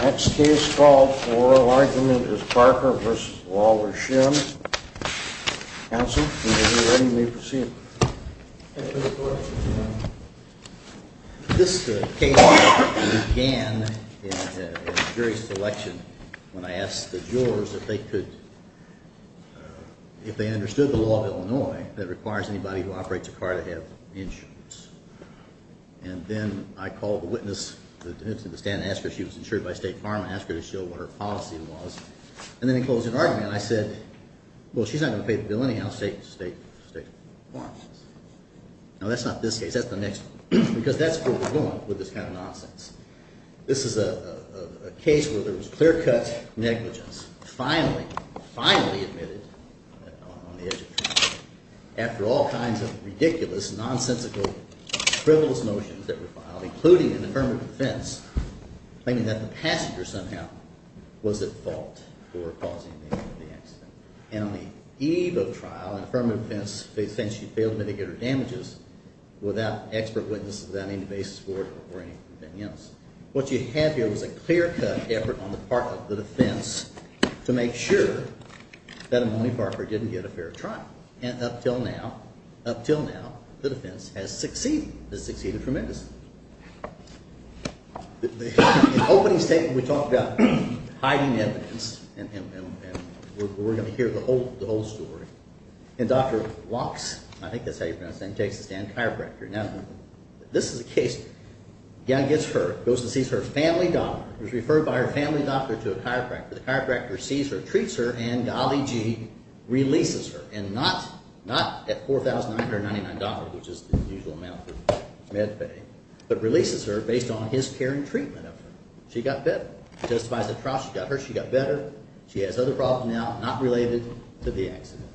Next case called for oral argument is Parker v. Lawler-Shinn. Counsel, when you're ready, you may proceed. This case began in a jury selection when I asked the jurors if they understood the law of Illinois that requires anybody who operates a car to have insurance. And then I called the witness, the witness at the stand and asked her if she was insured by State Farm and asked her to show what her policy was. And then in closing argument I said, well she's not going to pay the bill anyhow, State Farm. Now that's not this case, that's the next one. Because that's where we're going with this kind of nonsense. This is a case where there was clear-cut negligence. Finally, finally admitted on the edge of trial after all kinds of ridiculous, nonsensical, frivolous motions that were filed, including an affirmative defense, claiming that the passenger somehow was at fault for causing the accident. And on the eve of trial, an affirmative defense claims she failed to mitigate her damages without expert witnesses, without any basis for it or anything else. What you have here is a clear-cut effort on the part of the defense to make sure that Imoni Parker didn't get a fair trial. And up until now, up until now, the defense has succeeded, has succeeded tremendously. In the opening statement we talked about hiding evidence, and we're going to hear the whole story. And Dr. Locks – I think that's how you pronounce his name – takes the stand, the chiropractor. Now, this is a case. Young gets hurt, goes and sees her family doctor. She was referred by her family doctor to a chiropractor. The chiropractor sees her, treats her, and golly gee, releases her, and not at $4,999, which is the usual amount for med pay, but releases her based on his care and treatment of her. She got better. Justifies the trial. She got hurt. She got better. She has other problems now not related to the accident.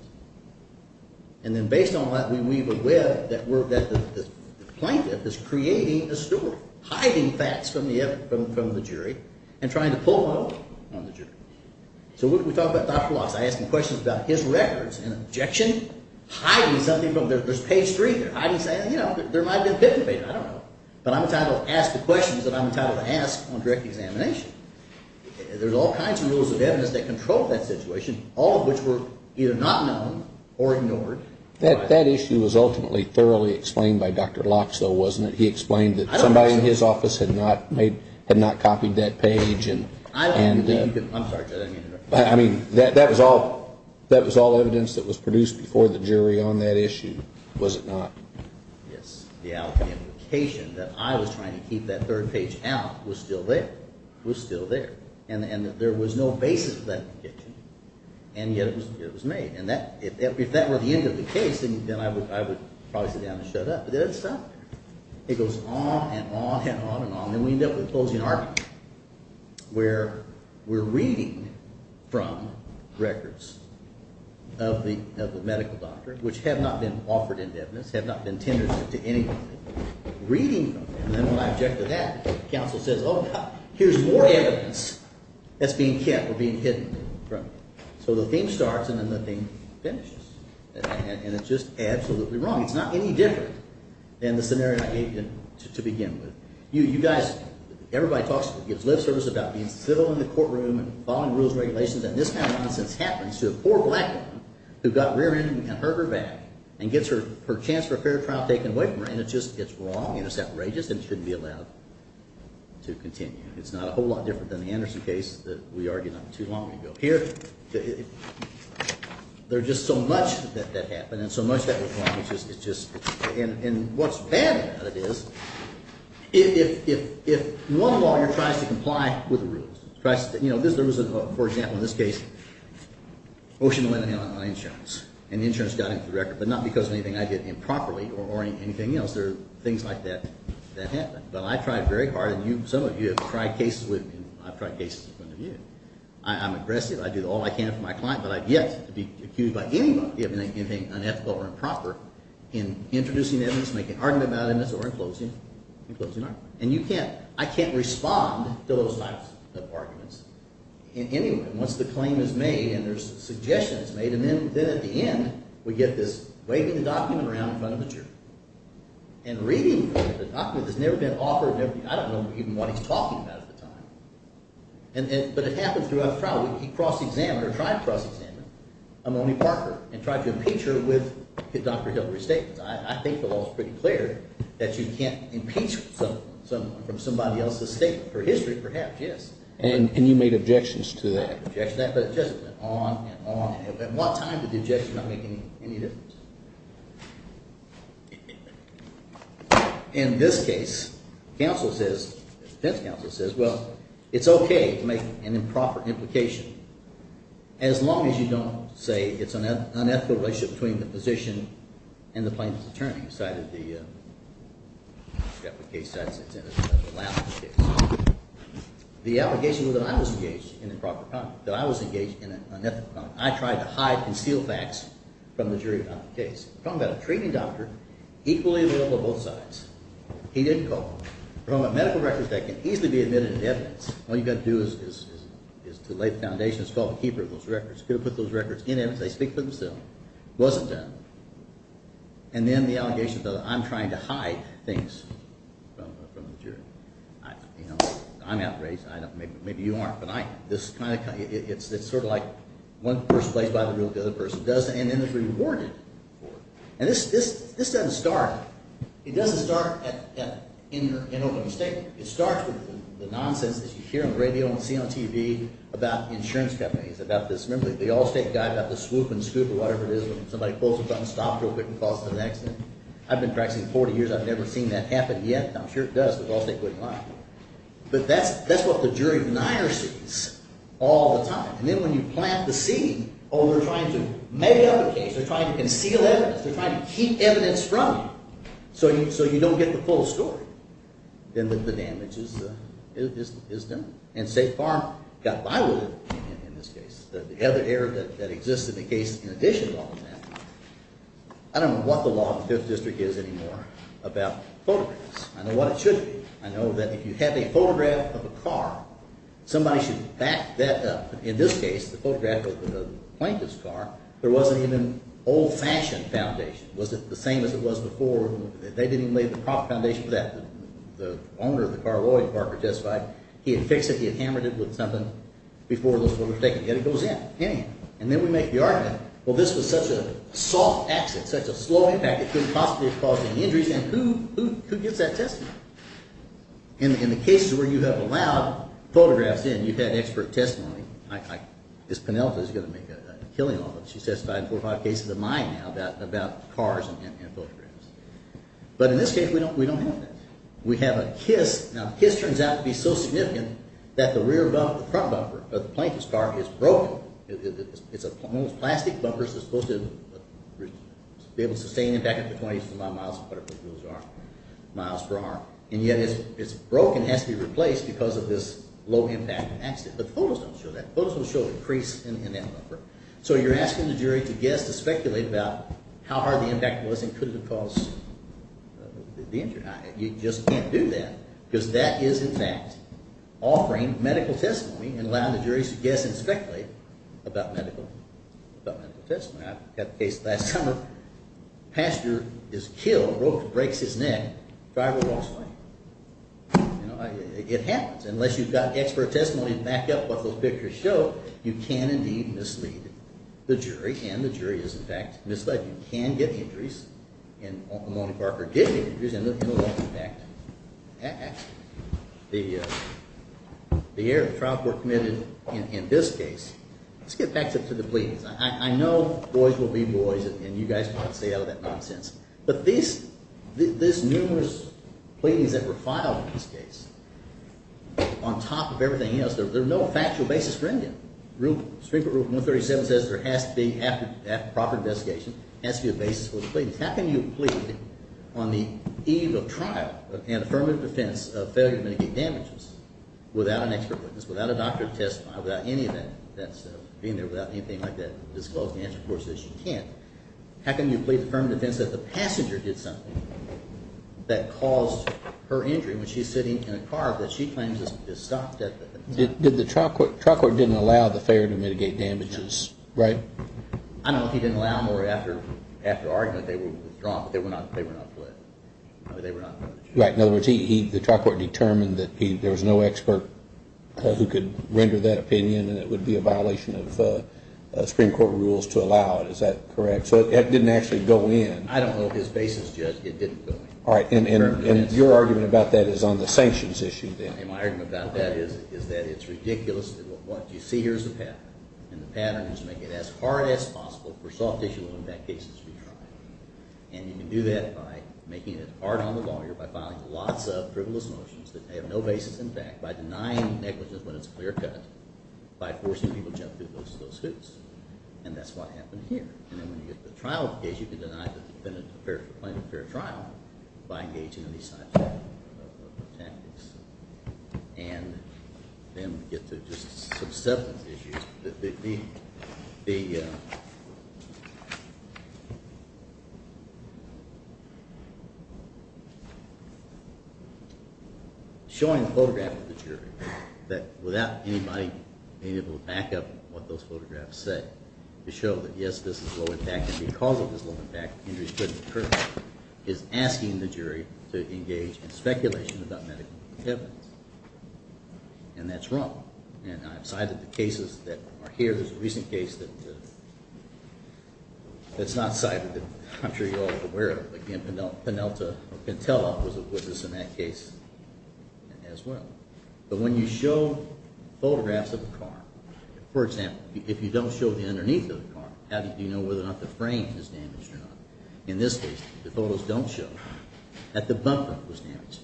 And then based on that, we weave a web that the plaintiff is creating a story, hiding facts from the jury and trying to pull the hook on the jury. So when we talk about Dr. Locks, I ask him questions about his records and objection, hiding something from – there's page three there. Hiding something, you know, there might have been a picnic date. I don't know. But I'm entitled to ask the questions that I'm entitled to ask on direct examination. There's all kinds of rules of evidence that control that situation, all of which were either not known or ignored. That issue was ultimately thoroughly explained by Dr. Locks, though, wasn't it? He explained that somebody in his office had not copied that page and – I don't believe you can – I'm sorry. I mean, that was all evidence that was produced before the jury on that issue, was it not? Yes, the allegation that I was trying to keep that third page out was still there, was still there. And there was no basis for that allegation, and yet it was made. And if that were the end of the case, then I would probably sit down and shut up. But it doesn't stop there. It goes on and on and on and on, and we end up with a closing argument where we're reading from records of the medical doctor, which have not been offered in evidence, have not been tendered to anybody, reading from them. And then when I object to that, the counsel says, oh, here's more evidence that's being kept or being hidden from you. So the theme starts, and then the theme finishes. And it's just absolutely wrong. It's not any different than the scenario I gave you to begin with. You guys – everybody talks – gives lip service about being civil in the courtroom and following rules and regulations. And this kind of nonsense happens to a poor black woman who got rear-ended and hurt her back and gets her chance for a fair trial taken away from her. And it's just – it's wrong, and it's outrageous, and it shouldn't be allowed to continue. It's not a whole lot different than the Anderson case that we argued on too long ago. Here, there's just so much that happened and so much that was wrong. It's just – and what's bad about it is if one lawyer tries to comply with the rules – you know, there was, for example, in this case, motion to lay the hand on my insurance, and the insurance got into the record, but not because of anything I did improperly or anything else. There are things like that that happen. But I tried very hard, and you – some of you have tried cases with me. I've tried cases with one of you. I'm aggressive. I do all I can for my client, but I've yet to be accused by anybody of anything unethical or improper in introducing evidence, making an argument about evidence, or in closing an argument. And you can't – I can't respond to those types of arguments in any way. Once the claim is made and there's a suggestion that's made, and then at the end we get this waving the document around in front of the jury. And reading the document, there's never been an offer of – I don't know even what he's talking about at the time. But it happens throughout the trial. We cross-examined or tried to cross-examine Amoni Parker and tried to impeach her with Dr. Hillary's statements. I think the law is pretty clear that you can't impeach someone from somebody else's statement for history perhaps, yes. And you made objections to that. I made objections to that, but it just went on and on. At what time did the objection not make any difference? In this case, counsel says – defense counsel says, well, it's okay to make an improper implication as long as you don't say it's an unethical relationship between the position and the plaintiff. The plaintiff's attorney cited the case that's in it. The allegation was that I was engaged in an improper – that I was engaged in an unethical conduct. I tried to hide, conceal facts from the jury about the case. We're talking about a treating doctor equally available on both sides. He didn't call. We're talking about medical records that can easily be admitted as evidence. All you've got to do is to lay the foundation. It's called the keeper of those records. You've got to put those records in evidence. They speak for themselves. It wasn't done. And then the allegation that I'm trying to hide things from the jury. I'm outraged. Maybe you aren't, but I – this kind of – it's sort of like one person plays by the rules, the other person doesn't, and then it's rewarded for it. And this doesn't start – it doesn't start in an open statement. It starts with the nonsense that you hear on the radio and see on TV about insurance companies, about this. Remember the Allstate guy got the swoop and scoop or whatever it is when somebody pulls a button, stops real quick and calls it an accident. I've been practicing for 40 years. I've never seen that happen yet. I'm sure it does, but Allstate wouldn't lie. But that's what the jury denier sees all the time. And then when you plant the seed, oh, they're trying to make up a case. They're trying to conceal evidence. They're trying to keep evidence from you so you don't get the full story. Then the damage is done. And State Farm got by with it in this case. The other error that exists in the case in addition to all of that, I don't know what the law of the Fifth District is anymore about photographs. I know what it should be. I know that if you have a photograph of a car, somebody should back that up. In this case, the photograph of the plaintiff's car, there wasn't even an old-fashioned foundation. It wasn't the same as it was before. They didn't even lay the prop foundation for that. The owner of the car, Lloyd Parker, testified he had fixed it. He had hammered it with something before those photos were taken. Yet it goes in. And then we make the argument, well, this was such a soft exit, such a slow impact, it couldn't possibly have caused any injuries. And who gets that testimony? In the cases where you have allowed photographs in, you've had expert testimony. I guess Penelope is going to make a killing on it. She's testified in four or five cases of mine now about cars and photographs. But in this case, we don't have that. We have a KISS. Now, KISS turns out to be so significant that the rear bumper, the front bumper of the plaintiff's car is broken. It's a plastic bumper. It's supposed to be able to sustain impact up to 20 miles per hour. And yet it's broken. It has to be replaced because of this low-impact accident. But the photos don't show that. The photos don't show a crease in that bumper. So you're asking the jury to guess, to speculate about how hard the impact was and could it have caused the injury. You just can't do that because that is, in fact, offering medical testimony and allowing the jury to guess and speculate about medical testimony. I had a case last summer. The passenger is killed. A rope breaks his neck. The driver walks away. You know, it happens. Unless you've got expert testimony to back up what those pictures show, you can indeed mislead the jury. And the jury is, in fact, misled. You can get injuries. And Lamoni Parker did get injuries in a low-impact accident. The trial court committed, in this case, let's get back to the pleadings. I know boys will be boys, and you guys want to stay out of that nonsense. But these numerous pleadings that were filed in this case, on top of everything else, there's no factual basis for any of them. Rule, Supreme Court Rule 137 says there has to be, after proper investigation, has to be a basis for the pleadings. How can you plead on the eve of trial in affirmative defense of failure to mitigate damages without an expert witness, without a doctor to testify, without any of that? That's being there without anything like that disclosing the answer, of course, is you can't. How can you plead affirmative defense if the passenger did something that caused her injury when she's sitting in a car that she claims is stopped at the time? The trial court didn't allow the failure to mitigate damages, right? I don't know if he didn't allow them or after argument they were withdrawn, but they were not fled. In other words, the trial court determined that there was no expert who could render that opinion and it would be a violation of Supreme Court rules to allow it. Is that correct? So it didn't actually go in. I don't know if his basis judged it didn't go in. All right, and your argument about that is on the sanctions issue then. My argument about that is that it's ridiculous that what you see here is a pattern. And the pattern is to make it as hard as possible for soft tissue impact cases to be tried. And you can do that by making it hard on the lawyer by filing lots of frivolous motions that have no basis in fact, by denying negligence when it's clear cut, by forcing people to jump through those hoops. And that's what happened here. And then when you get to the trial case, you can deny the defendant the claim of fair trial by engaging in these types of tactics. And then we get to just some substance issues. Showing a photograph of the jury that without anybody being able to back up what those photographs say to show that yes, this is low impact and because it was low impact injuries couldn't occur, is asking the jury to engage in speculation about medical evidence. And that's wrong. And I've cited the cases that are here. There's a recent case that's not cited that I'm sure you're all aware of. Again, Penelta or Pantella was a witness in that case as well. But when you show photographs of a car, for example, if you don't show the underneath of the car, how do you know whether or not the frame is damaged or not? In this case, the photos don't show that the bumper was damaged.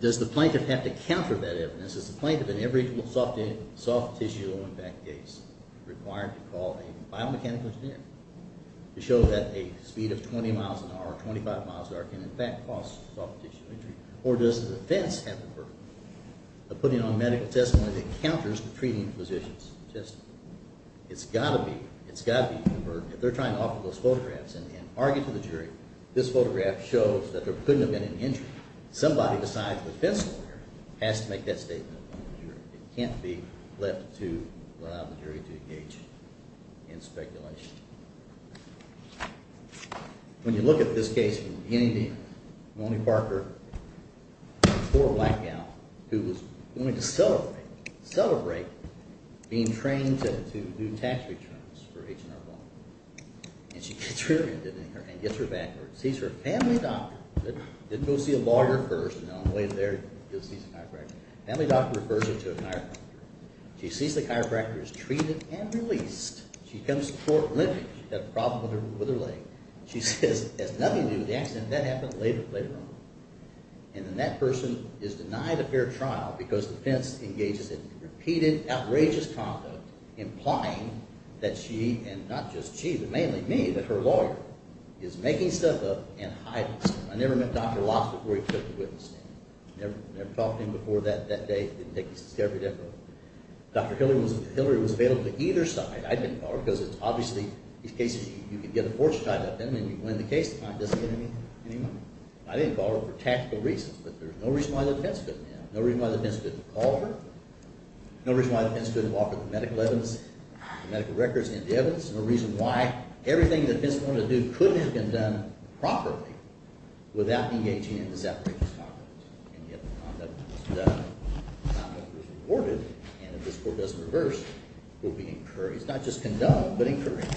Does the plaintiff have to counter that evidence? Is the plaintiff in every soft-tissue low-impact case required to call a biomechanical engineer to show that a speed of 20 miles an hour or 25 miles an hour can in fact cause soft-tissue injury? Or does the defense have the burden of putting on medical testimony that counters the treating physician's testimony? It's got to be. It's got to be. If they're trying to offer those photographs and argue to the jury, this photograph shows that there couldn't have been any injury. Somebody besides the defense lawyer has to make that statement in front of the jury. It can't be left to allow the jury to engage in speculation. When you look at this case from the beginning to the end, Moni Parker, a poor black gal who was going to celebrate being trained to do tax returns for H&R Block. And she gets rear-ended in here and gets her back where she sees her family doctor. Didn't go see a lawyer first, and on the way there she sees a chiropractor. Family doctor refers her to a chiropractor. She sees the chiropractor is treated and released. She comes to court limping. She's got a problem with her leg. She says, as nothing to do with the accident, that happened later on. And then that person is denied a fair trial because the defense engages in repeated, outrageous conduct, implying that she, and not just she, but mainly me, that her lawyer, is making stuff up and hiding stuff. I never met Dr. Locke before he took the witness stand. Never talked to him before that day. Dr. Hillary was available to either side. I didn't call her because it's obviously these cases you can get a fortune tied up in and you win the case. It doesn't get any money. I didn't call her for tactical reasons, but there's no reason why the defense couldn't have. No reason why the defense couldn't have called her. No reason why the defense couldn't have offered the medical evidence, the medical records and the evidence. No reason why everything the defense wanted to do couldn't have been done properly without engaging in this outrageous conduct. And yet the conduct was done. The conduct was reported. And if this court doesn't reverse, we'll be encouraged, not just condoned, but encouraged.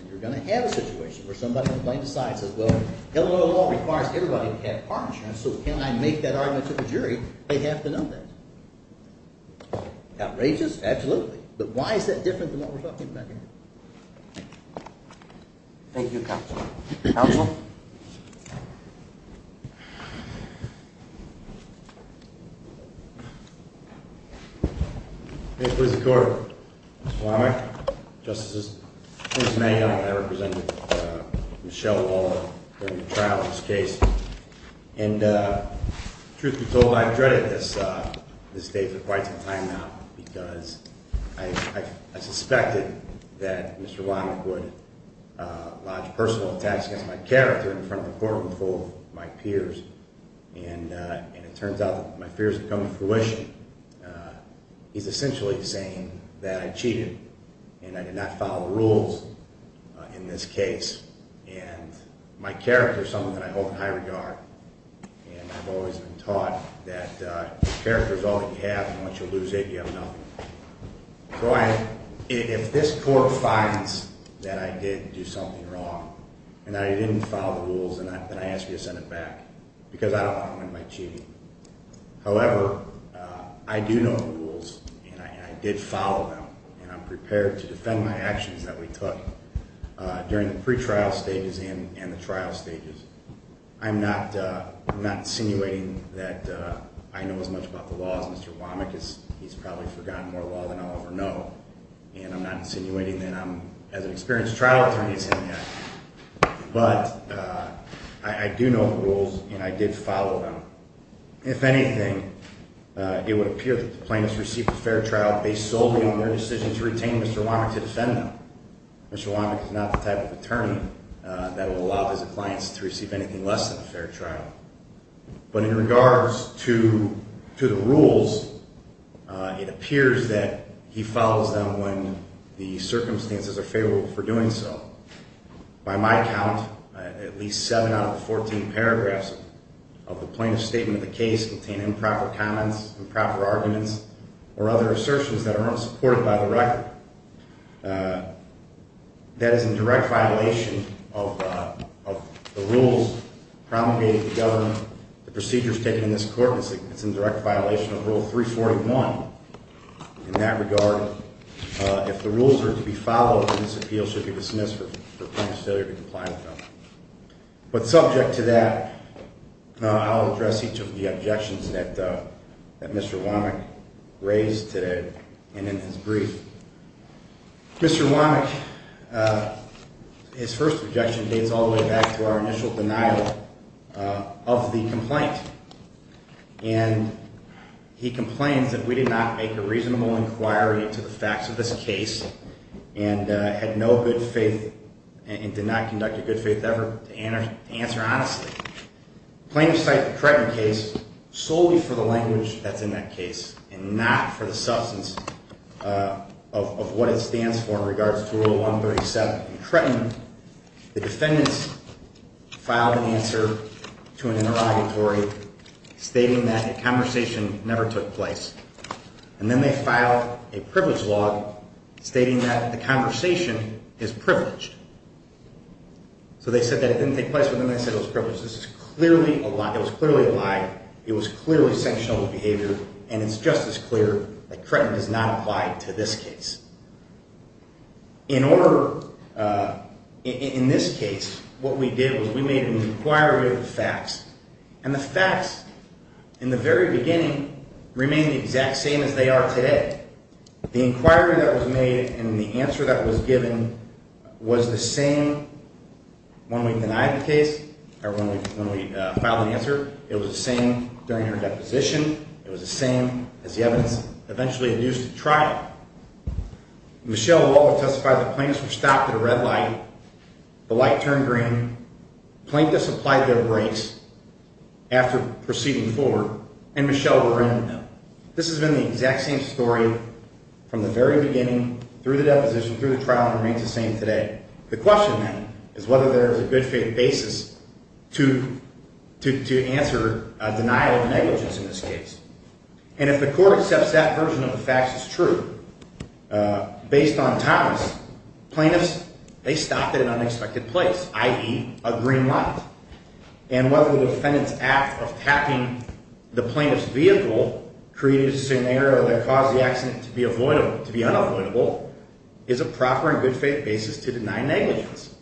And you're going to have a situation where somebody on the plaintiff's side says, well, Illinois law requires everybody to have car insurance, so can I make that argument to the jury? They have to know that. Outrageous? Absolutely. But why is that different than what we're talking about here? Thank you, counsel. Counsel? May it please the court. Mr. Womack, Justice's name. I represented Michelle Waller during the trial of this case. And truth be told, I've dreaded this day for quite some time now because I suspected that Mr. Womack would lodge personal attacks against my character in front of a courtroom full of my peers. And it turns out that my fears have come to fruition. He's essentially saying that I cheated and I did not follow the rules in this case. And my character is something that I hold in high regard. And I've always been taught that character is all that you have, and once you lose it, you have nothing. So if this court finds that I did do something wrong and that I didn't follow the rules, then I ask you to send it back. Because I don't want to win by cheating. However, I do know the rules and I did follow them. And I'm prepared to defend my actions that we took during the pretrial stages and the trial stages. I'm not insinuating that I know as much about the law as Mr. Womack. He's probably forgotten more law than I'll ever know. And I'm not insinuating that I'm as an experienced trial attorney as him yet. But I do know the rules and I did follow them. If anything, it would appear that the plaintiffs received a fair trial based solely on their decision to retain Mr. Womack to defend them. Mr. Womack is not the type of attorney that will allow his clients to receive anything less than a fair trial. But in regards to the rules, it appears that he follows them when the circumstances are favorable for doing so. By my count, at least seven out of the 14 paragraphs of the plaintiff's statement of the case contain improper comments, improper arguments, or other assertions that are not supported by the record. That is in direct violation of the rules promulgated to government. The procedures taken in this court, it's in direct violation of Rule 341. In that regard, if the rules are to be followed, this appeal should be dismissed for plaintiff's failure to comply with them. But subject to that, I'll address each of the objections that Mr. Womack raised today and in his brief. Mr. Womack, his first objection dates all the way back to our initial denial of the complaint. And he complains that we did not make a reasonable inquiry into the facts of this case and had no good faith and did not conduct a good faith ever to answer honestly. The plaintiff cited the Kretten case solely for the language that's in that case and not for the substance of what it stands for in regards to Rule 137. In Kretten, the defendants filed an answer to an interrogatory stating that a conversation never took place. And then they filed a privilege law stating that the conversation is privileged. So they said that it didn't take place, but then they said it was privileged. This is clearly a lie. It was clearly a lie. It was clearly sanctionable behavior, and it's just as clear that Kretten does not apply to this case. In this case, what we did was we made an inquiry of the facts, and the facts in the very beginning remained the exact same as they are today. The inquiry that was made and the answer that was given was the same when we denied the case or when we filed the answer. It was the same during her deposition. It was the same as the evidence. It was the same as the evidence that was eventually used at trial. Michelle Waller testified that plaintiffs were stopped at a red light, the light turned green, the plaintiff supplied their breaks after proceeding forward, and Michelle were in the middle. This has been the exact same story from the very beginning, through the deposition, through the trial, and remains the same today. The question, then, is whether there is a good faith basis to answer denial of negligence in this case. And if the court accepts that version of the facts is true, based on Thomas, plaintiffs, they stopped at an unexpected place, i.e., a green light. And whether the defendant's act of tapping the plaintiff's vehicle created a scenario that caused the accident to be unavoidable is a proper and good faith basis to deny negligence.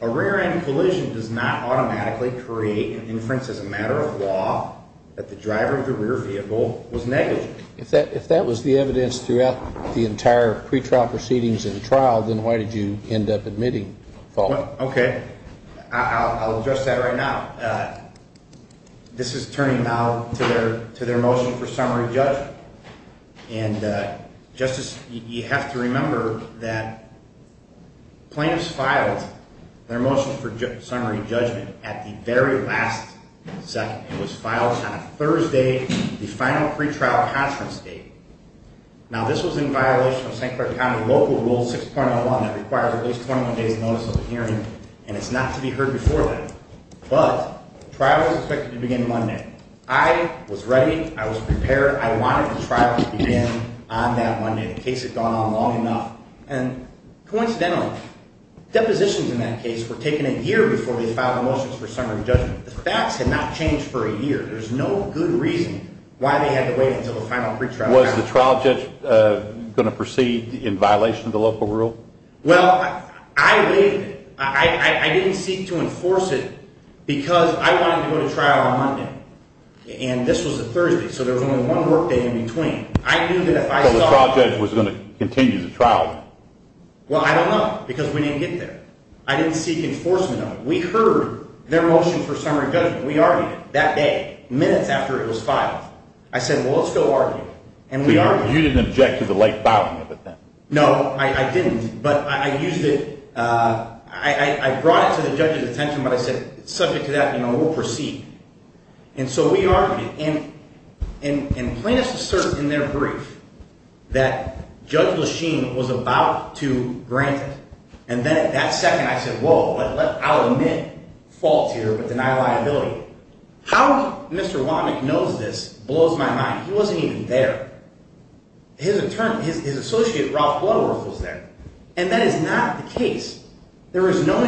A rear-end collision does not automatically create an inference as a matter of law that the driver of the rear vehicle was negligent. If that was the evidence throughout the entire pretrial proceedings and trial, then why did you end up admitting the fault? Okay. I'll address that right now. This is turning now to their motion for summary judgment. And, Justice, you have to remember that plaintiffs filed their motion for summary judgment at the very last second. It was filed on Thursday, the final pretrial conference date. Now, this was in violation of St. Clair County Local Rule 6.01 that requires at least 21 days' notice of the hearing, and it's not to be heard before then. But the trial is expected to begin Monday. I was ready, I was prepared, I wanted the trial to begin on that Monday. The case had gone on long enough. And coincidentally, depositions in that case were taken a year before they filed the motions for summary judgment. The facts had not changed for a year. There's no good reason why they had to wait until the final pretrial conference. Was the trial judge going to proceed in violation of the local rule? Well, I waited. I didn't seek to enforce it because I wanted to go to trial on Monday. And this was a Thursday, so there was only one workday in between. I knew that if I saw it… So the trial judge was going to continue the trial? Well, I don't know, because we didn't get there. I didn't seek enforcement of it. We heard their motion for summary judgment. We argued it that day, minutes after it was filed. I said, well, let's go argue it. And we argued it. So you didn't object to the late filing of it then? No, I didn't. But I used it… I brought it to the judge's attention, but I said, subject to that, we'll proceed. And so we argued it. And plaintiffs assert in their brief that Judge Lechine was about to grant it. And then at that second, I said, whoa, I'll admit fault here but deny liability. How Mr. Womack knows this blows my mind. He wasn't even there. His attorney, his associate, Ralph Bloodworth, was there. And that is not the case. There was no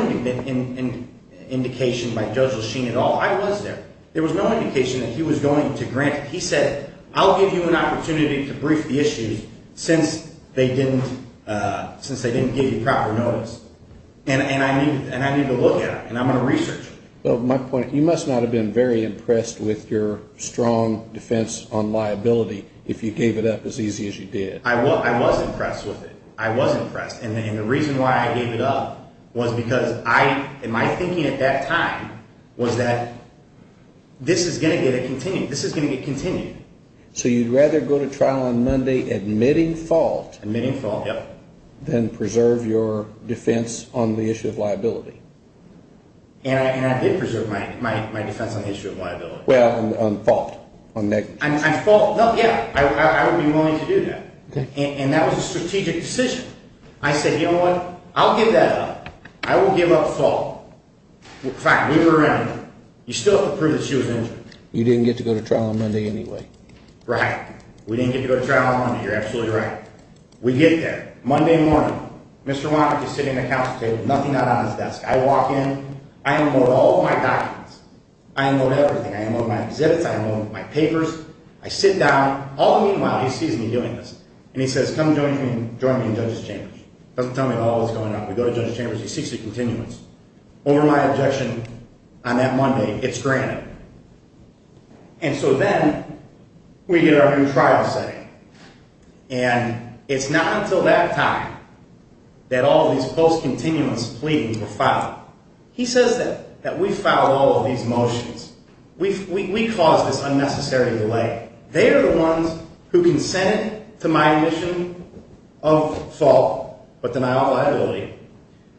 indication by Judge Lechine at all. I was there. There was no indication that he was going to grant it. He said, I'll give you an opportunity to brief the issue since they didn't give you proper notice. And I need to look at it, and I'm going to research it. You must not have been very impressed with your strong defense on liability if you gave it up as easy as you did. I was impressed with it. I was impressed. And the reason why I gave it up was because my thinking at that time was that this is going to get continued. This is going to get continued. So you'd rather go to trial on Monday admitting fault than preserve your defense on the issue of liability. And I did preserve my defense on the issue of liability. Well, on fault, on negligence. On fault, yeah. I would be willing to do that. And that was a strategic decision. I said, you know what? I'll give that up. I will give up fault. Fine. Leave her in. You still have to prove that she was injured. You didn't get to go to trial on Monday anyway. Right. We didn't get to go to trial on Monday. You're absolutely right. We get there. Monday morning. Mr. Womack is sitting at the counsel table. Nothing out on his desk. I walk in. I unload all of my documents. I unload everything. I unload my exhibits. I unload my papers. I sit down. All the meanwhile, he sees me doing this. And he says, come join me in Judges' Chambers. Doesn't tell me all that's going on. We go to Judges' Chambers. He seeks a continuance. Over my objection on that Monday, it's granted. And so then we get our new trial setting. And it's not until that time that all of these post-continuance pleadings were filed. He says that we filed all of these motions. We caused this unnecessary delay. They are the ones who consent to my admission of fault but deny all liability.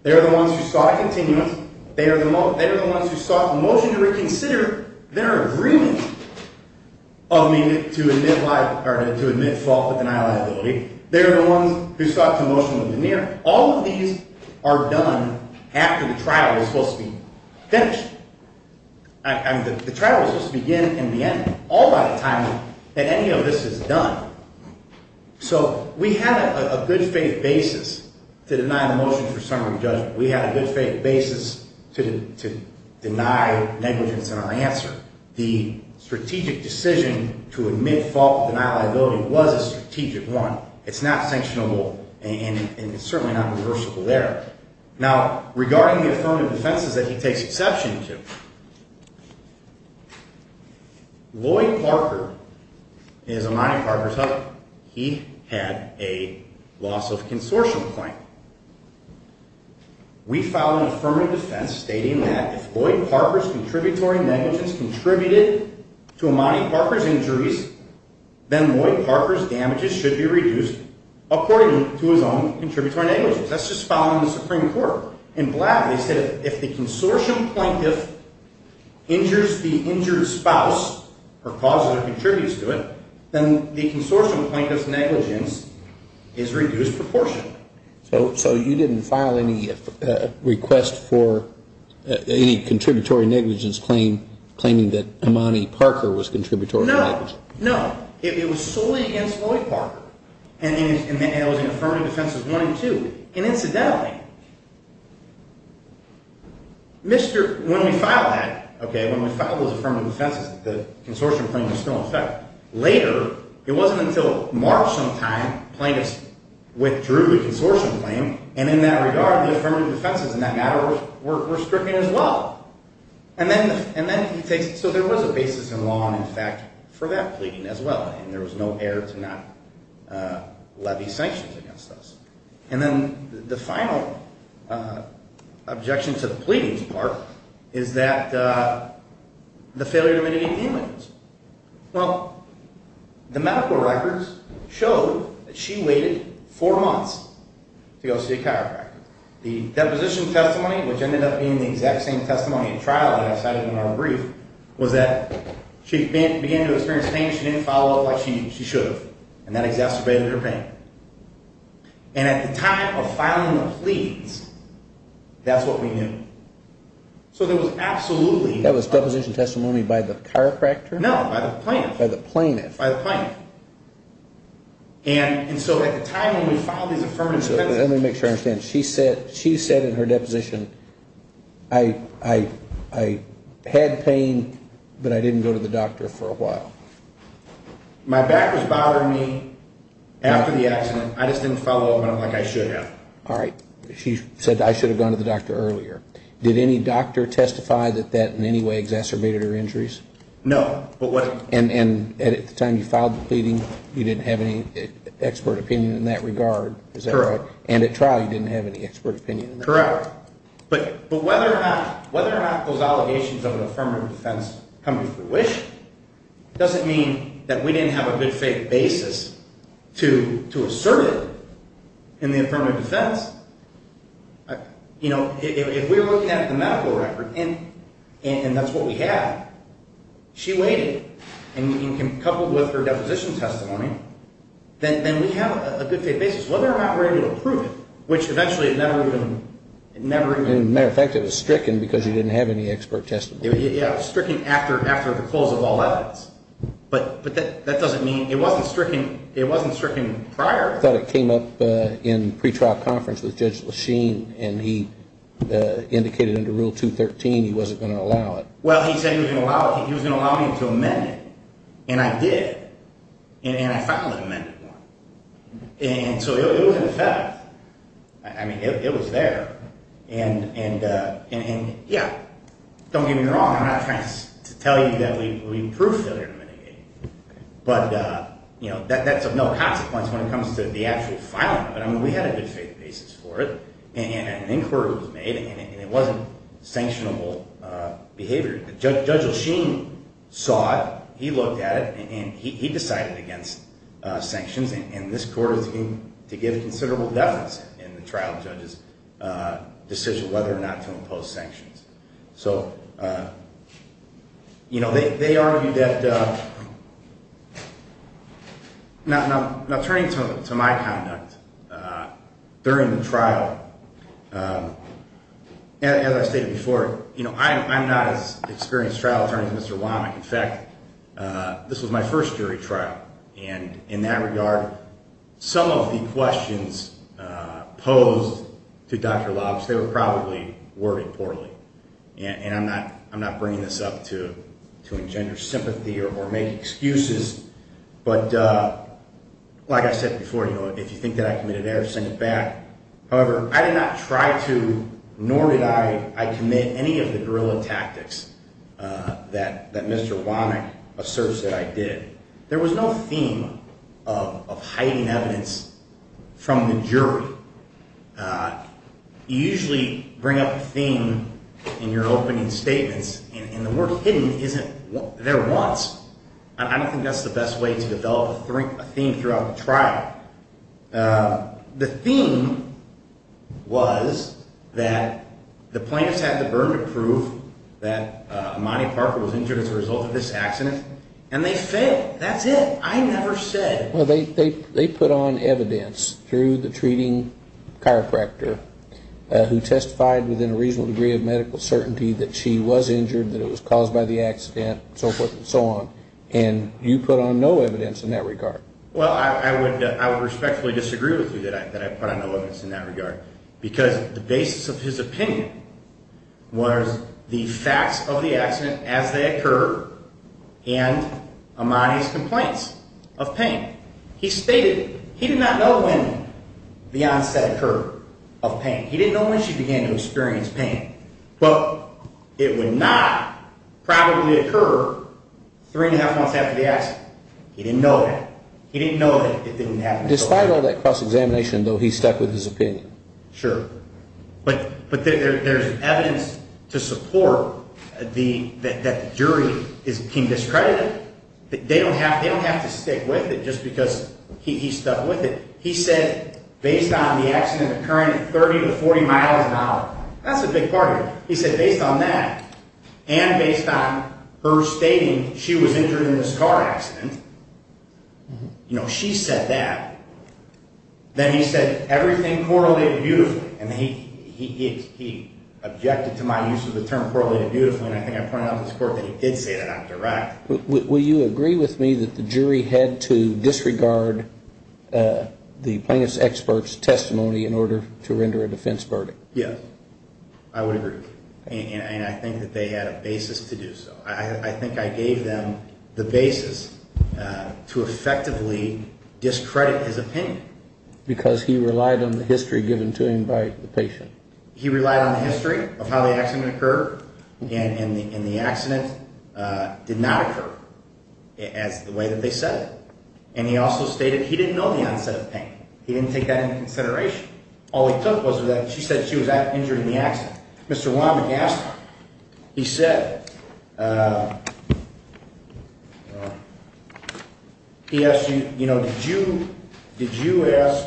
They are the ones who sought a continuance. They are the ones who sought a motion to reconsider their agreement of me to admit fault but deny liability. They are the ones who sought to motion a veneer. All of these are done after the trial is supposed to be finished. I mean, the trial is supposed to begin in the end. All by the time that any of this is done. So we had a good faith basis to deny the motion for summary judgment. We had a good faith basis to deny negligence in our answer. The strategic decision to admit fault but deny liability was a strategic one. It's not sanctionable, and it's certainly not reversible there. Now, regarding the affirmative defenses that he takes exception to, Lloyd Parker is Imani Parker's husband. He had a loss of consortium point. We filed an affirmative defense stating that if Lloyd Parker's contributory negligence contributed to Imani Parker's injuries, then Lloyd Parker's damages should be reduced according to his own contributory negligence. That's just following the Supreme Court. They said if the consortium plaintiff injures the injured spouse or causes or contributes to it, then the consortium plaintiff's negligence is reduced proportionately. So you didn't file any request for any contributory negligence claiming that Imani Parker was contributory negligent? No, no. It was solely against Lloyd Parker. And it was in affirmative defenses one and two. And incidentally, when we filed those affirmative defenses, the consortium claim was still in effect. Later, it wasn't until March sometime, the plaintiffs withdrew the consortium claim, and in that regard, the affirmative defenses in that matter were stricken as well. So there was a basis in law, in fact, for that pleading as well, and there was no error to not levy sanctions against us. And then the final objection to the pleadings part is that the failure to mitigate damages. Well, the medical records showed that she waited four months to go see a chiropractor. The deposition testimony, which ended up being the exact same testimony at trial that I cited in our brief, was that she began to experience pain, she didn't follow up like she should have, and that exacerbated her pain. And at the time of filing the pleadings, that's what we knew. So there was absolutely no… That was deposition testimony by the chiropractor? No, by the plaintiff. By the plaintiff. By the plaintiff. And so at the time when we filed these affirmative defenses… Let me make sure I understand. She said in her deposition, I had pain, but I didn't go to the doctor for a while. My back was bothering me after the accident. I just didn't follow up on it like I should have. All right. She said I should have gone to the doctor earlier. Did any doctor testify that that in any way exacerbated her injuries? No. And at the time you filed the pleading, you didn't have any expert opinion in that regard, is that right? Correct. And at trial, you didn't have any expert opinion in that regard? Correct. But whether or not those allegations of an affirmative defense come to fruition doesn't mean that we didn't have a good faith basis to assert it in the affirmative defense. You know, if we were looking at the medical record, and that's what we had, she waited. And coupled with her deposition testimony, then we have a good faith basis. Whether or not we're able to prove it, which eventually it never even – As a matter of fact, it was stricken because you didn't have any expert testimony. Yeah, it was stricken after the close of all evidence. But that doesn't mean – it wasn't stricken prior. I thought it came up in pre-trial conference with Judge LeChene, and he indicated under Rule 213 he wasn't going to allow it. Well, he said he was going to allow it. He was going to allow me to amend it. And I did. And I finally amended it. And so it was in effect. I mean, it was there. And, yeah, don't get me wrong. I'm not trying to tell you that we proved failure to mitigate. But, you know, that's of no consequence when it comes to the actual filing of it. I mean, we had a good faith basis for it, and an inquiry was made, and it wasn't sanctionable behavior. Judge LeChene saw it. He looked at it, and he decided against sanctions. And this court is going to give considerable deference in the trial judge's decision whether or not to impose sanctions. So, you know, they argued that – now turning to my conduct during the trial, as I stated before, you know, I'm not as experienced a trial attorney as Mr. Womack. In fact, this was my first jury trial. And in that regard, some of the questions posed to Dr. Lobbs, they were probably worded poorly. And I'm not bringing this up to engender sympathy or make excuses. But like I said before, you know, if you think that I committed error, send it back. However, I did not try to, nor did I commit any of the guerrilla tactics that Mr. Womack asserts that I did. There was no theme of hiding evidence from the jury. You usually bring up a theme in your opening statements, and the word hidden isn't there once. I don't think that's the best way to develop a theme throughout the trial. The theme was that the plaintiffs had the verdict proof that Monty Parker was injured as a result of this accident, and they failed. That's it. I never said. Well, they put on evidence through the treating chiropractor who testified within a reasonable degree of medical certainty that she was injured, that it was caused by the accident, and so forth and so on. And you put on no evidence in that regard. Well, I would respectfully disagree with you that I put on no evidence in that regard, because the basis of his opinion was the facts of the accident as they occur and Imani's complaints of pain. He stated he did not know when the onset occurred of pain. He didn't know when she began to experience pain, but it would not probably occur three and a half months after the accident. He didn't know that. He didn't know that it didn't happen. Despite all that cross-examination, though, he stuck with his opinion. Sure. But there's evidence to support that the jury is being discredited. They don't have to stick with it just because he stuck with it. He said based on the accident occurring at 30 to 40 miles an hour, that's a big part of it. He said based on that and based on her stating she was injured in this car accident, you know, she said that. Then he said everything correlated beautifully. And he objected to my use of the term correlated beautifully, and I think I pointed out to this court that he did say that out direct. Will you agree with me that the jury had to disregard the plaintiff's expert's testimony in order to render a defense verdict? Yes, I would agree. And I think that they had a basis to do so. I think I gave them the basis to effectively discredit his opinion. Because he relied on the history given to him by the patient. He relied on the history of how the accident occurred, and the accident did not occur as the way that they said it. And he also stated he didn't know the onset of pain. He didn't take that into consideration. All he took was that she said she was injured in the accident. Mr. Weinberg asked him, he said, he asked you, you know, did you, did you ask,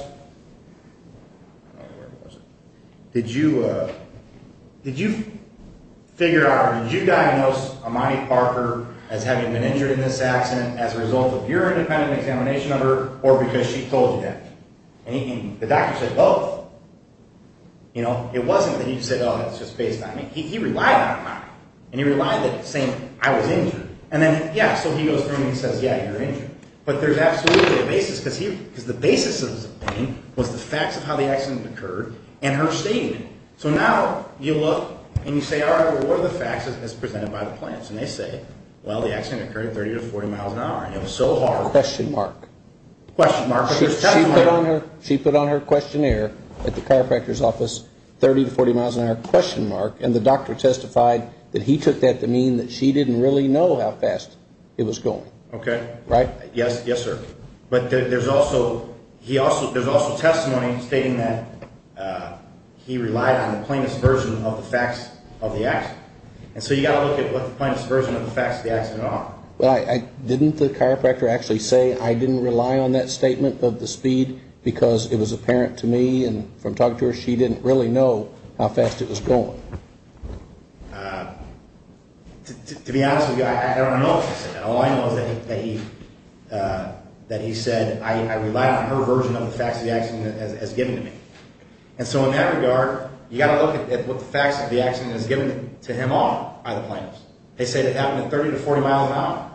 did you, did you figure out, did you diagnose Imani Parker as having been injured in this accident as a result of your independent examination of her or because she told you that? And the doctor said, well, you know, it wasn't that he said, oh, it's just based on me. He relied on Imani, and he relied that saying I was injured. And then, yeah, so he goes through and he says, yeah, you're injured. But there's absolutely a basis because he, because the basis of his opinion was the facts of how the accident occurred and her stating it. So now you look and you say, all right, well, what are the facts as presented by the plaintiffs? And they say, well, the accident occurred 30 to 40 miles an hour, and it was so hard. Question mark. She put on her. She put on her questionnaire at the chiropractor's office 30 to 40 miles an hour question mark. And the doctor testified that he took that to mean that she didn't really know how fast it was going. OK. Right. Yes. Yes, sir. But there's also he also there's also testimony stating that he relied on the plaintiff's version of the facts of the act. And so you got to look at what the plaintiff's version of the facts of the accident are. Well, I didn't the chiropractor actually say I didn't rely on that statement of the speed because it was apparent to me. And from talking to her, she didn't really know how fast it was going. To be honest with you, I don't know. All I know is that he said I relied on her version of the facts of the accident as given to me. And so in that regard, you got to look at what the facts of the accident is given to him off by the plaintiffs. They say that happened at 30 to 40 miles an hour.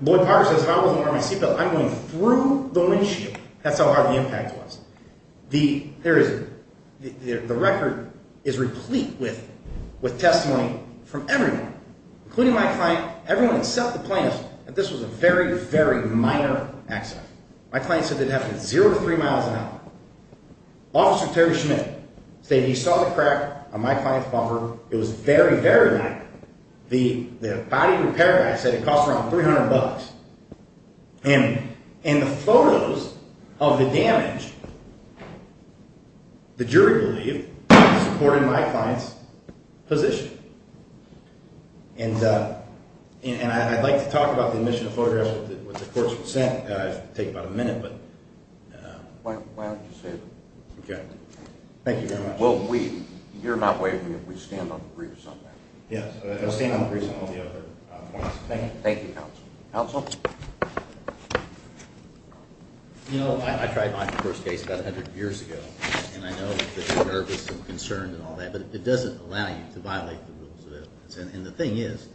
Boyd Parker says if I wasn't wearing my seatbelt, I'm going through the windshield. That's how hard the impact was. The there is the record is replete with with testimony from everyone, including my client. Everyone except the plaintiff that this was a very, very minor accident. My client said it happened zero to three miles an hour. It was very, very minor. The body repair guy said it cost around 300 bucks. And in the photos of the damage, the jury believed supported my client's position. And I'd like to talk about the admission of photographs with the court's consent. It would take about a minute, but. Why don't you say that? Okay. Thank you very much. Well, we you're not waving. We stand on three or something. Yes. Thank you. Council. You know, I tried my first case about a hundred years ago. And I know nervous and concerned and all that. But it doesn't allow you to violate the rules. And the thing is,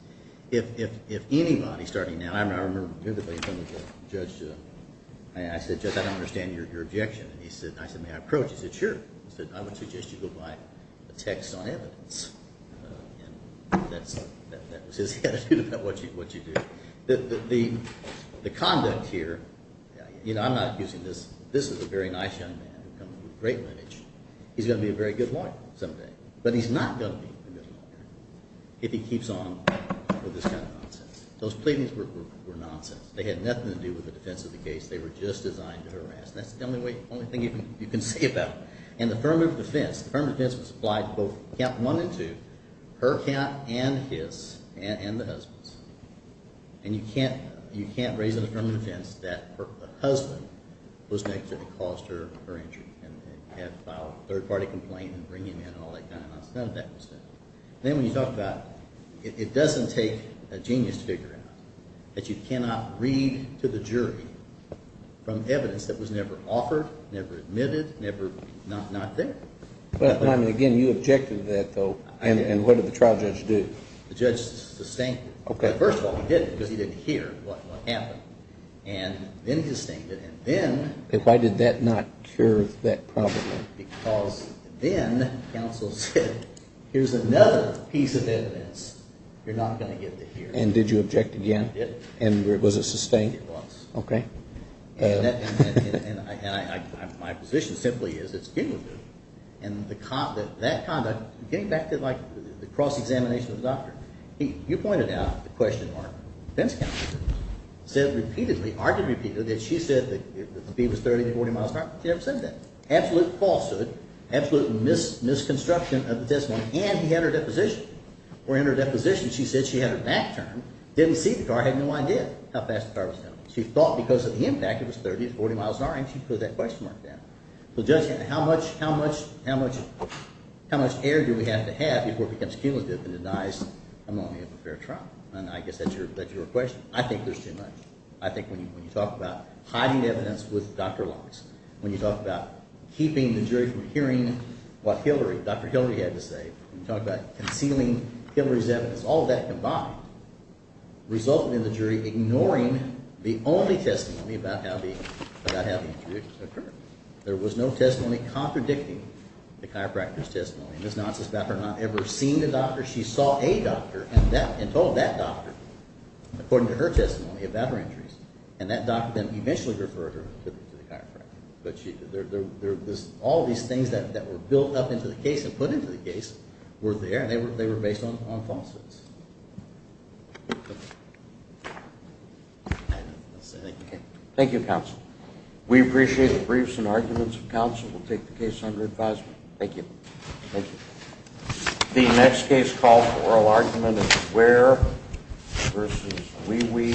if if if anybody starting now, I remember the judge. I said, I don't understand your objection. And he said, I said, may I approach? He said, sure. He said, I would suggest you go by the text on evidence. And that's that was his attitude about what you do. The conduct here, you know, I'm not accusing this. This is a very nice young man who comes from a great lineage. He's going to be a very good lawyer someday. But he's not going to be a good lawyer if he keeps on with this kind of nonsense. Those pleadings were nonsense. They had nothing to do with the defense of the case. They were just designed to harass. That's the only thing you can say about it. And the firm of defense, the firm of defense was applied to both count one and two, her count and his and the husband's. And you can't raise a firm of defense that the husband was next to the cause of her injury. And had filed a third-party complaint and bring him in and all that kind of nonsense. None of that was there. Then when you talk about, it doesn't take a genius to figure out that you cannot read to the jury from evidence that was never offered, never admitted, never not there. Again, you objected to that, though. And what did the trial judge do? The judge disdained it. First of all, he didn't because he didn't hear what happened. And then he disdained it. Why did that not cure that problem? Because then counsel said, here's another piece of evidence you're not going to get to hear. And did you object again? I did. And was it sustained? It was. Okay. And my position simply is it's cumulative. And that conduct, getting back to, like, the cross-examination of the doctor, you pointed out the question of our defense counsel said repeatedly, argued repeatedly, that she said that the B was 30 to 40 miles an hour. She never said that. Absolute falsehood, absolute misconstruction of the testimony. And he had her deposition. Or in her deposition, she said she had her back turned, didn't see the car, had no idea how fast the car was going. She thought because of the impact, it was 30 to 40 miles an hour, and she put that question mark there. So the judge said, how much air do we have to have before it becomes cumulative and denies I'm going to have a fair trial? And I guess that's your question. I think there's too much. I think when you talk about hiding evidence with Dr. Lox, when you talk about keeping the jury from hearing what Dr. Hillary had to say, when you talk about concealing Hillary's evidence, all of that combined resulted in the jury ignoring the only testimony about how the injury occurred. There was no testimony contradicting the chiropractor's testimony. And this nonsense about her not ever seeing the doctor, she saw a doctor and told that doctor, according to her testimony, about her injuries. And that doctor then eventually referred her to the chiropractor. All of these things that were built up into the case and put into the case were there, and they were based on falsehoods. Thank you, counsel. We appreciate the briefs and arguments of counsel. We'll take the case under advisement. Thank you. Thank you. The next case called for oral argument is Ware v. Wee Wee.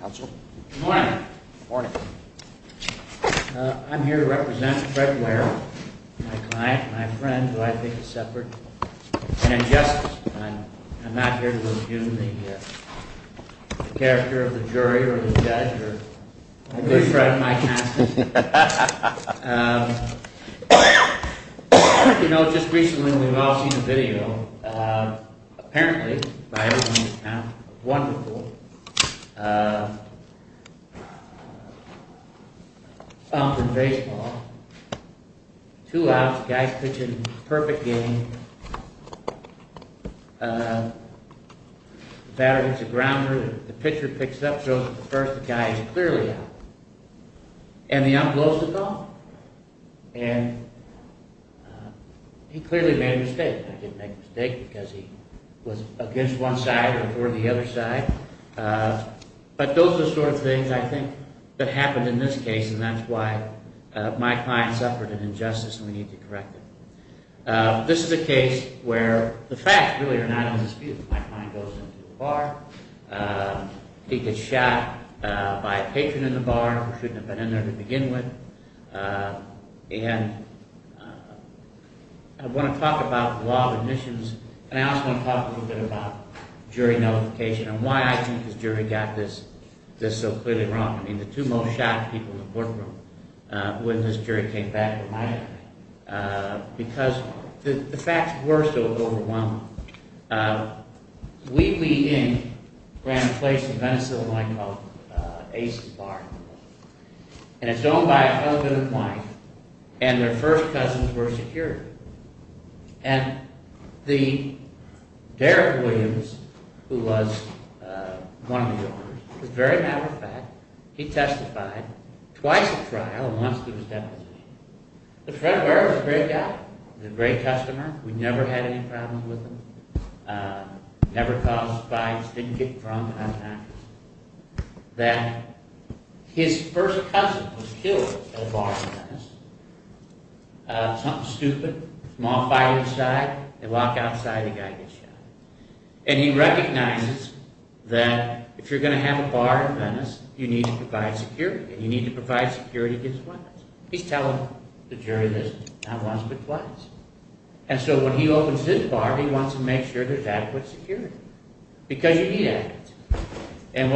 Counsel? Good morning. I'm here to represent Fred Ware, my client, my friend, who I think is suffered an injustice. I'm not here to review the character of the jury or the judge. I do threaten my counsel. You know, just recently we've all seen the video. Apparently, by everyone's account, wonderful. Out in baseball. Two outs. The guy's pitching the perfect game. The batter hits the grounder. The pitcher picks it up, throws it to the first. The guy is clearly out. And the ump blows the ball. And he clearly made a mistake. He didn't make a mistake because he was against one side or toward the other side. But those are the sort of things, I think, that happened in this case. And that's why my client suffered an injustice. And we need to correct it. This is a case where the facts really are not in dispute. My client goes into the bar. He gets shot by a patron in the bar who shouldn't have been in there to begin with. I want to talk about the law of admissions. And I also want to talk a little bit about jury notification. And why I think this jury got this so clearly wrong. I mean, the two most shocked people in the courtroom when this jury came back were my family. Because the facts were so overwhelming. Lee Lee Inc. ran a place in Venice, Illinois, called Ace's Bar. And it's owned by a fellow man and wife. And their first cousins were security. And Derek Williams, who was one of the owners, as a very matter of fact, he testified twice at trial and once through his deposition. But Fred Ware was a great guy. He was a great customer. We never had any problems with him. Never caused fights. Didn't get in trouble. Never had an accident. That his first cousin was killed at a bar in Venice. Something stupid. Small fight inside. They walk outside. The guy gets shot. And he recognizes that if you're going to have a bar in Venice, you need to provide security. And you need to provide security twice. He's telling the jury this. Not once, but twice. And so when he opens his bar, he wants to make sure there's adequate security. Because you need it.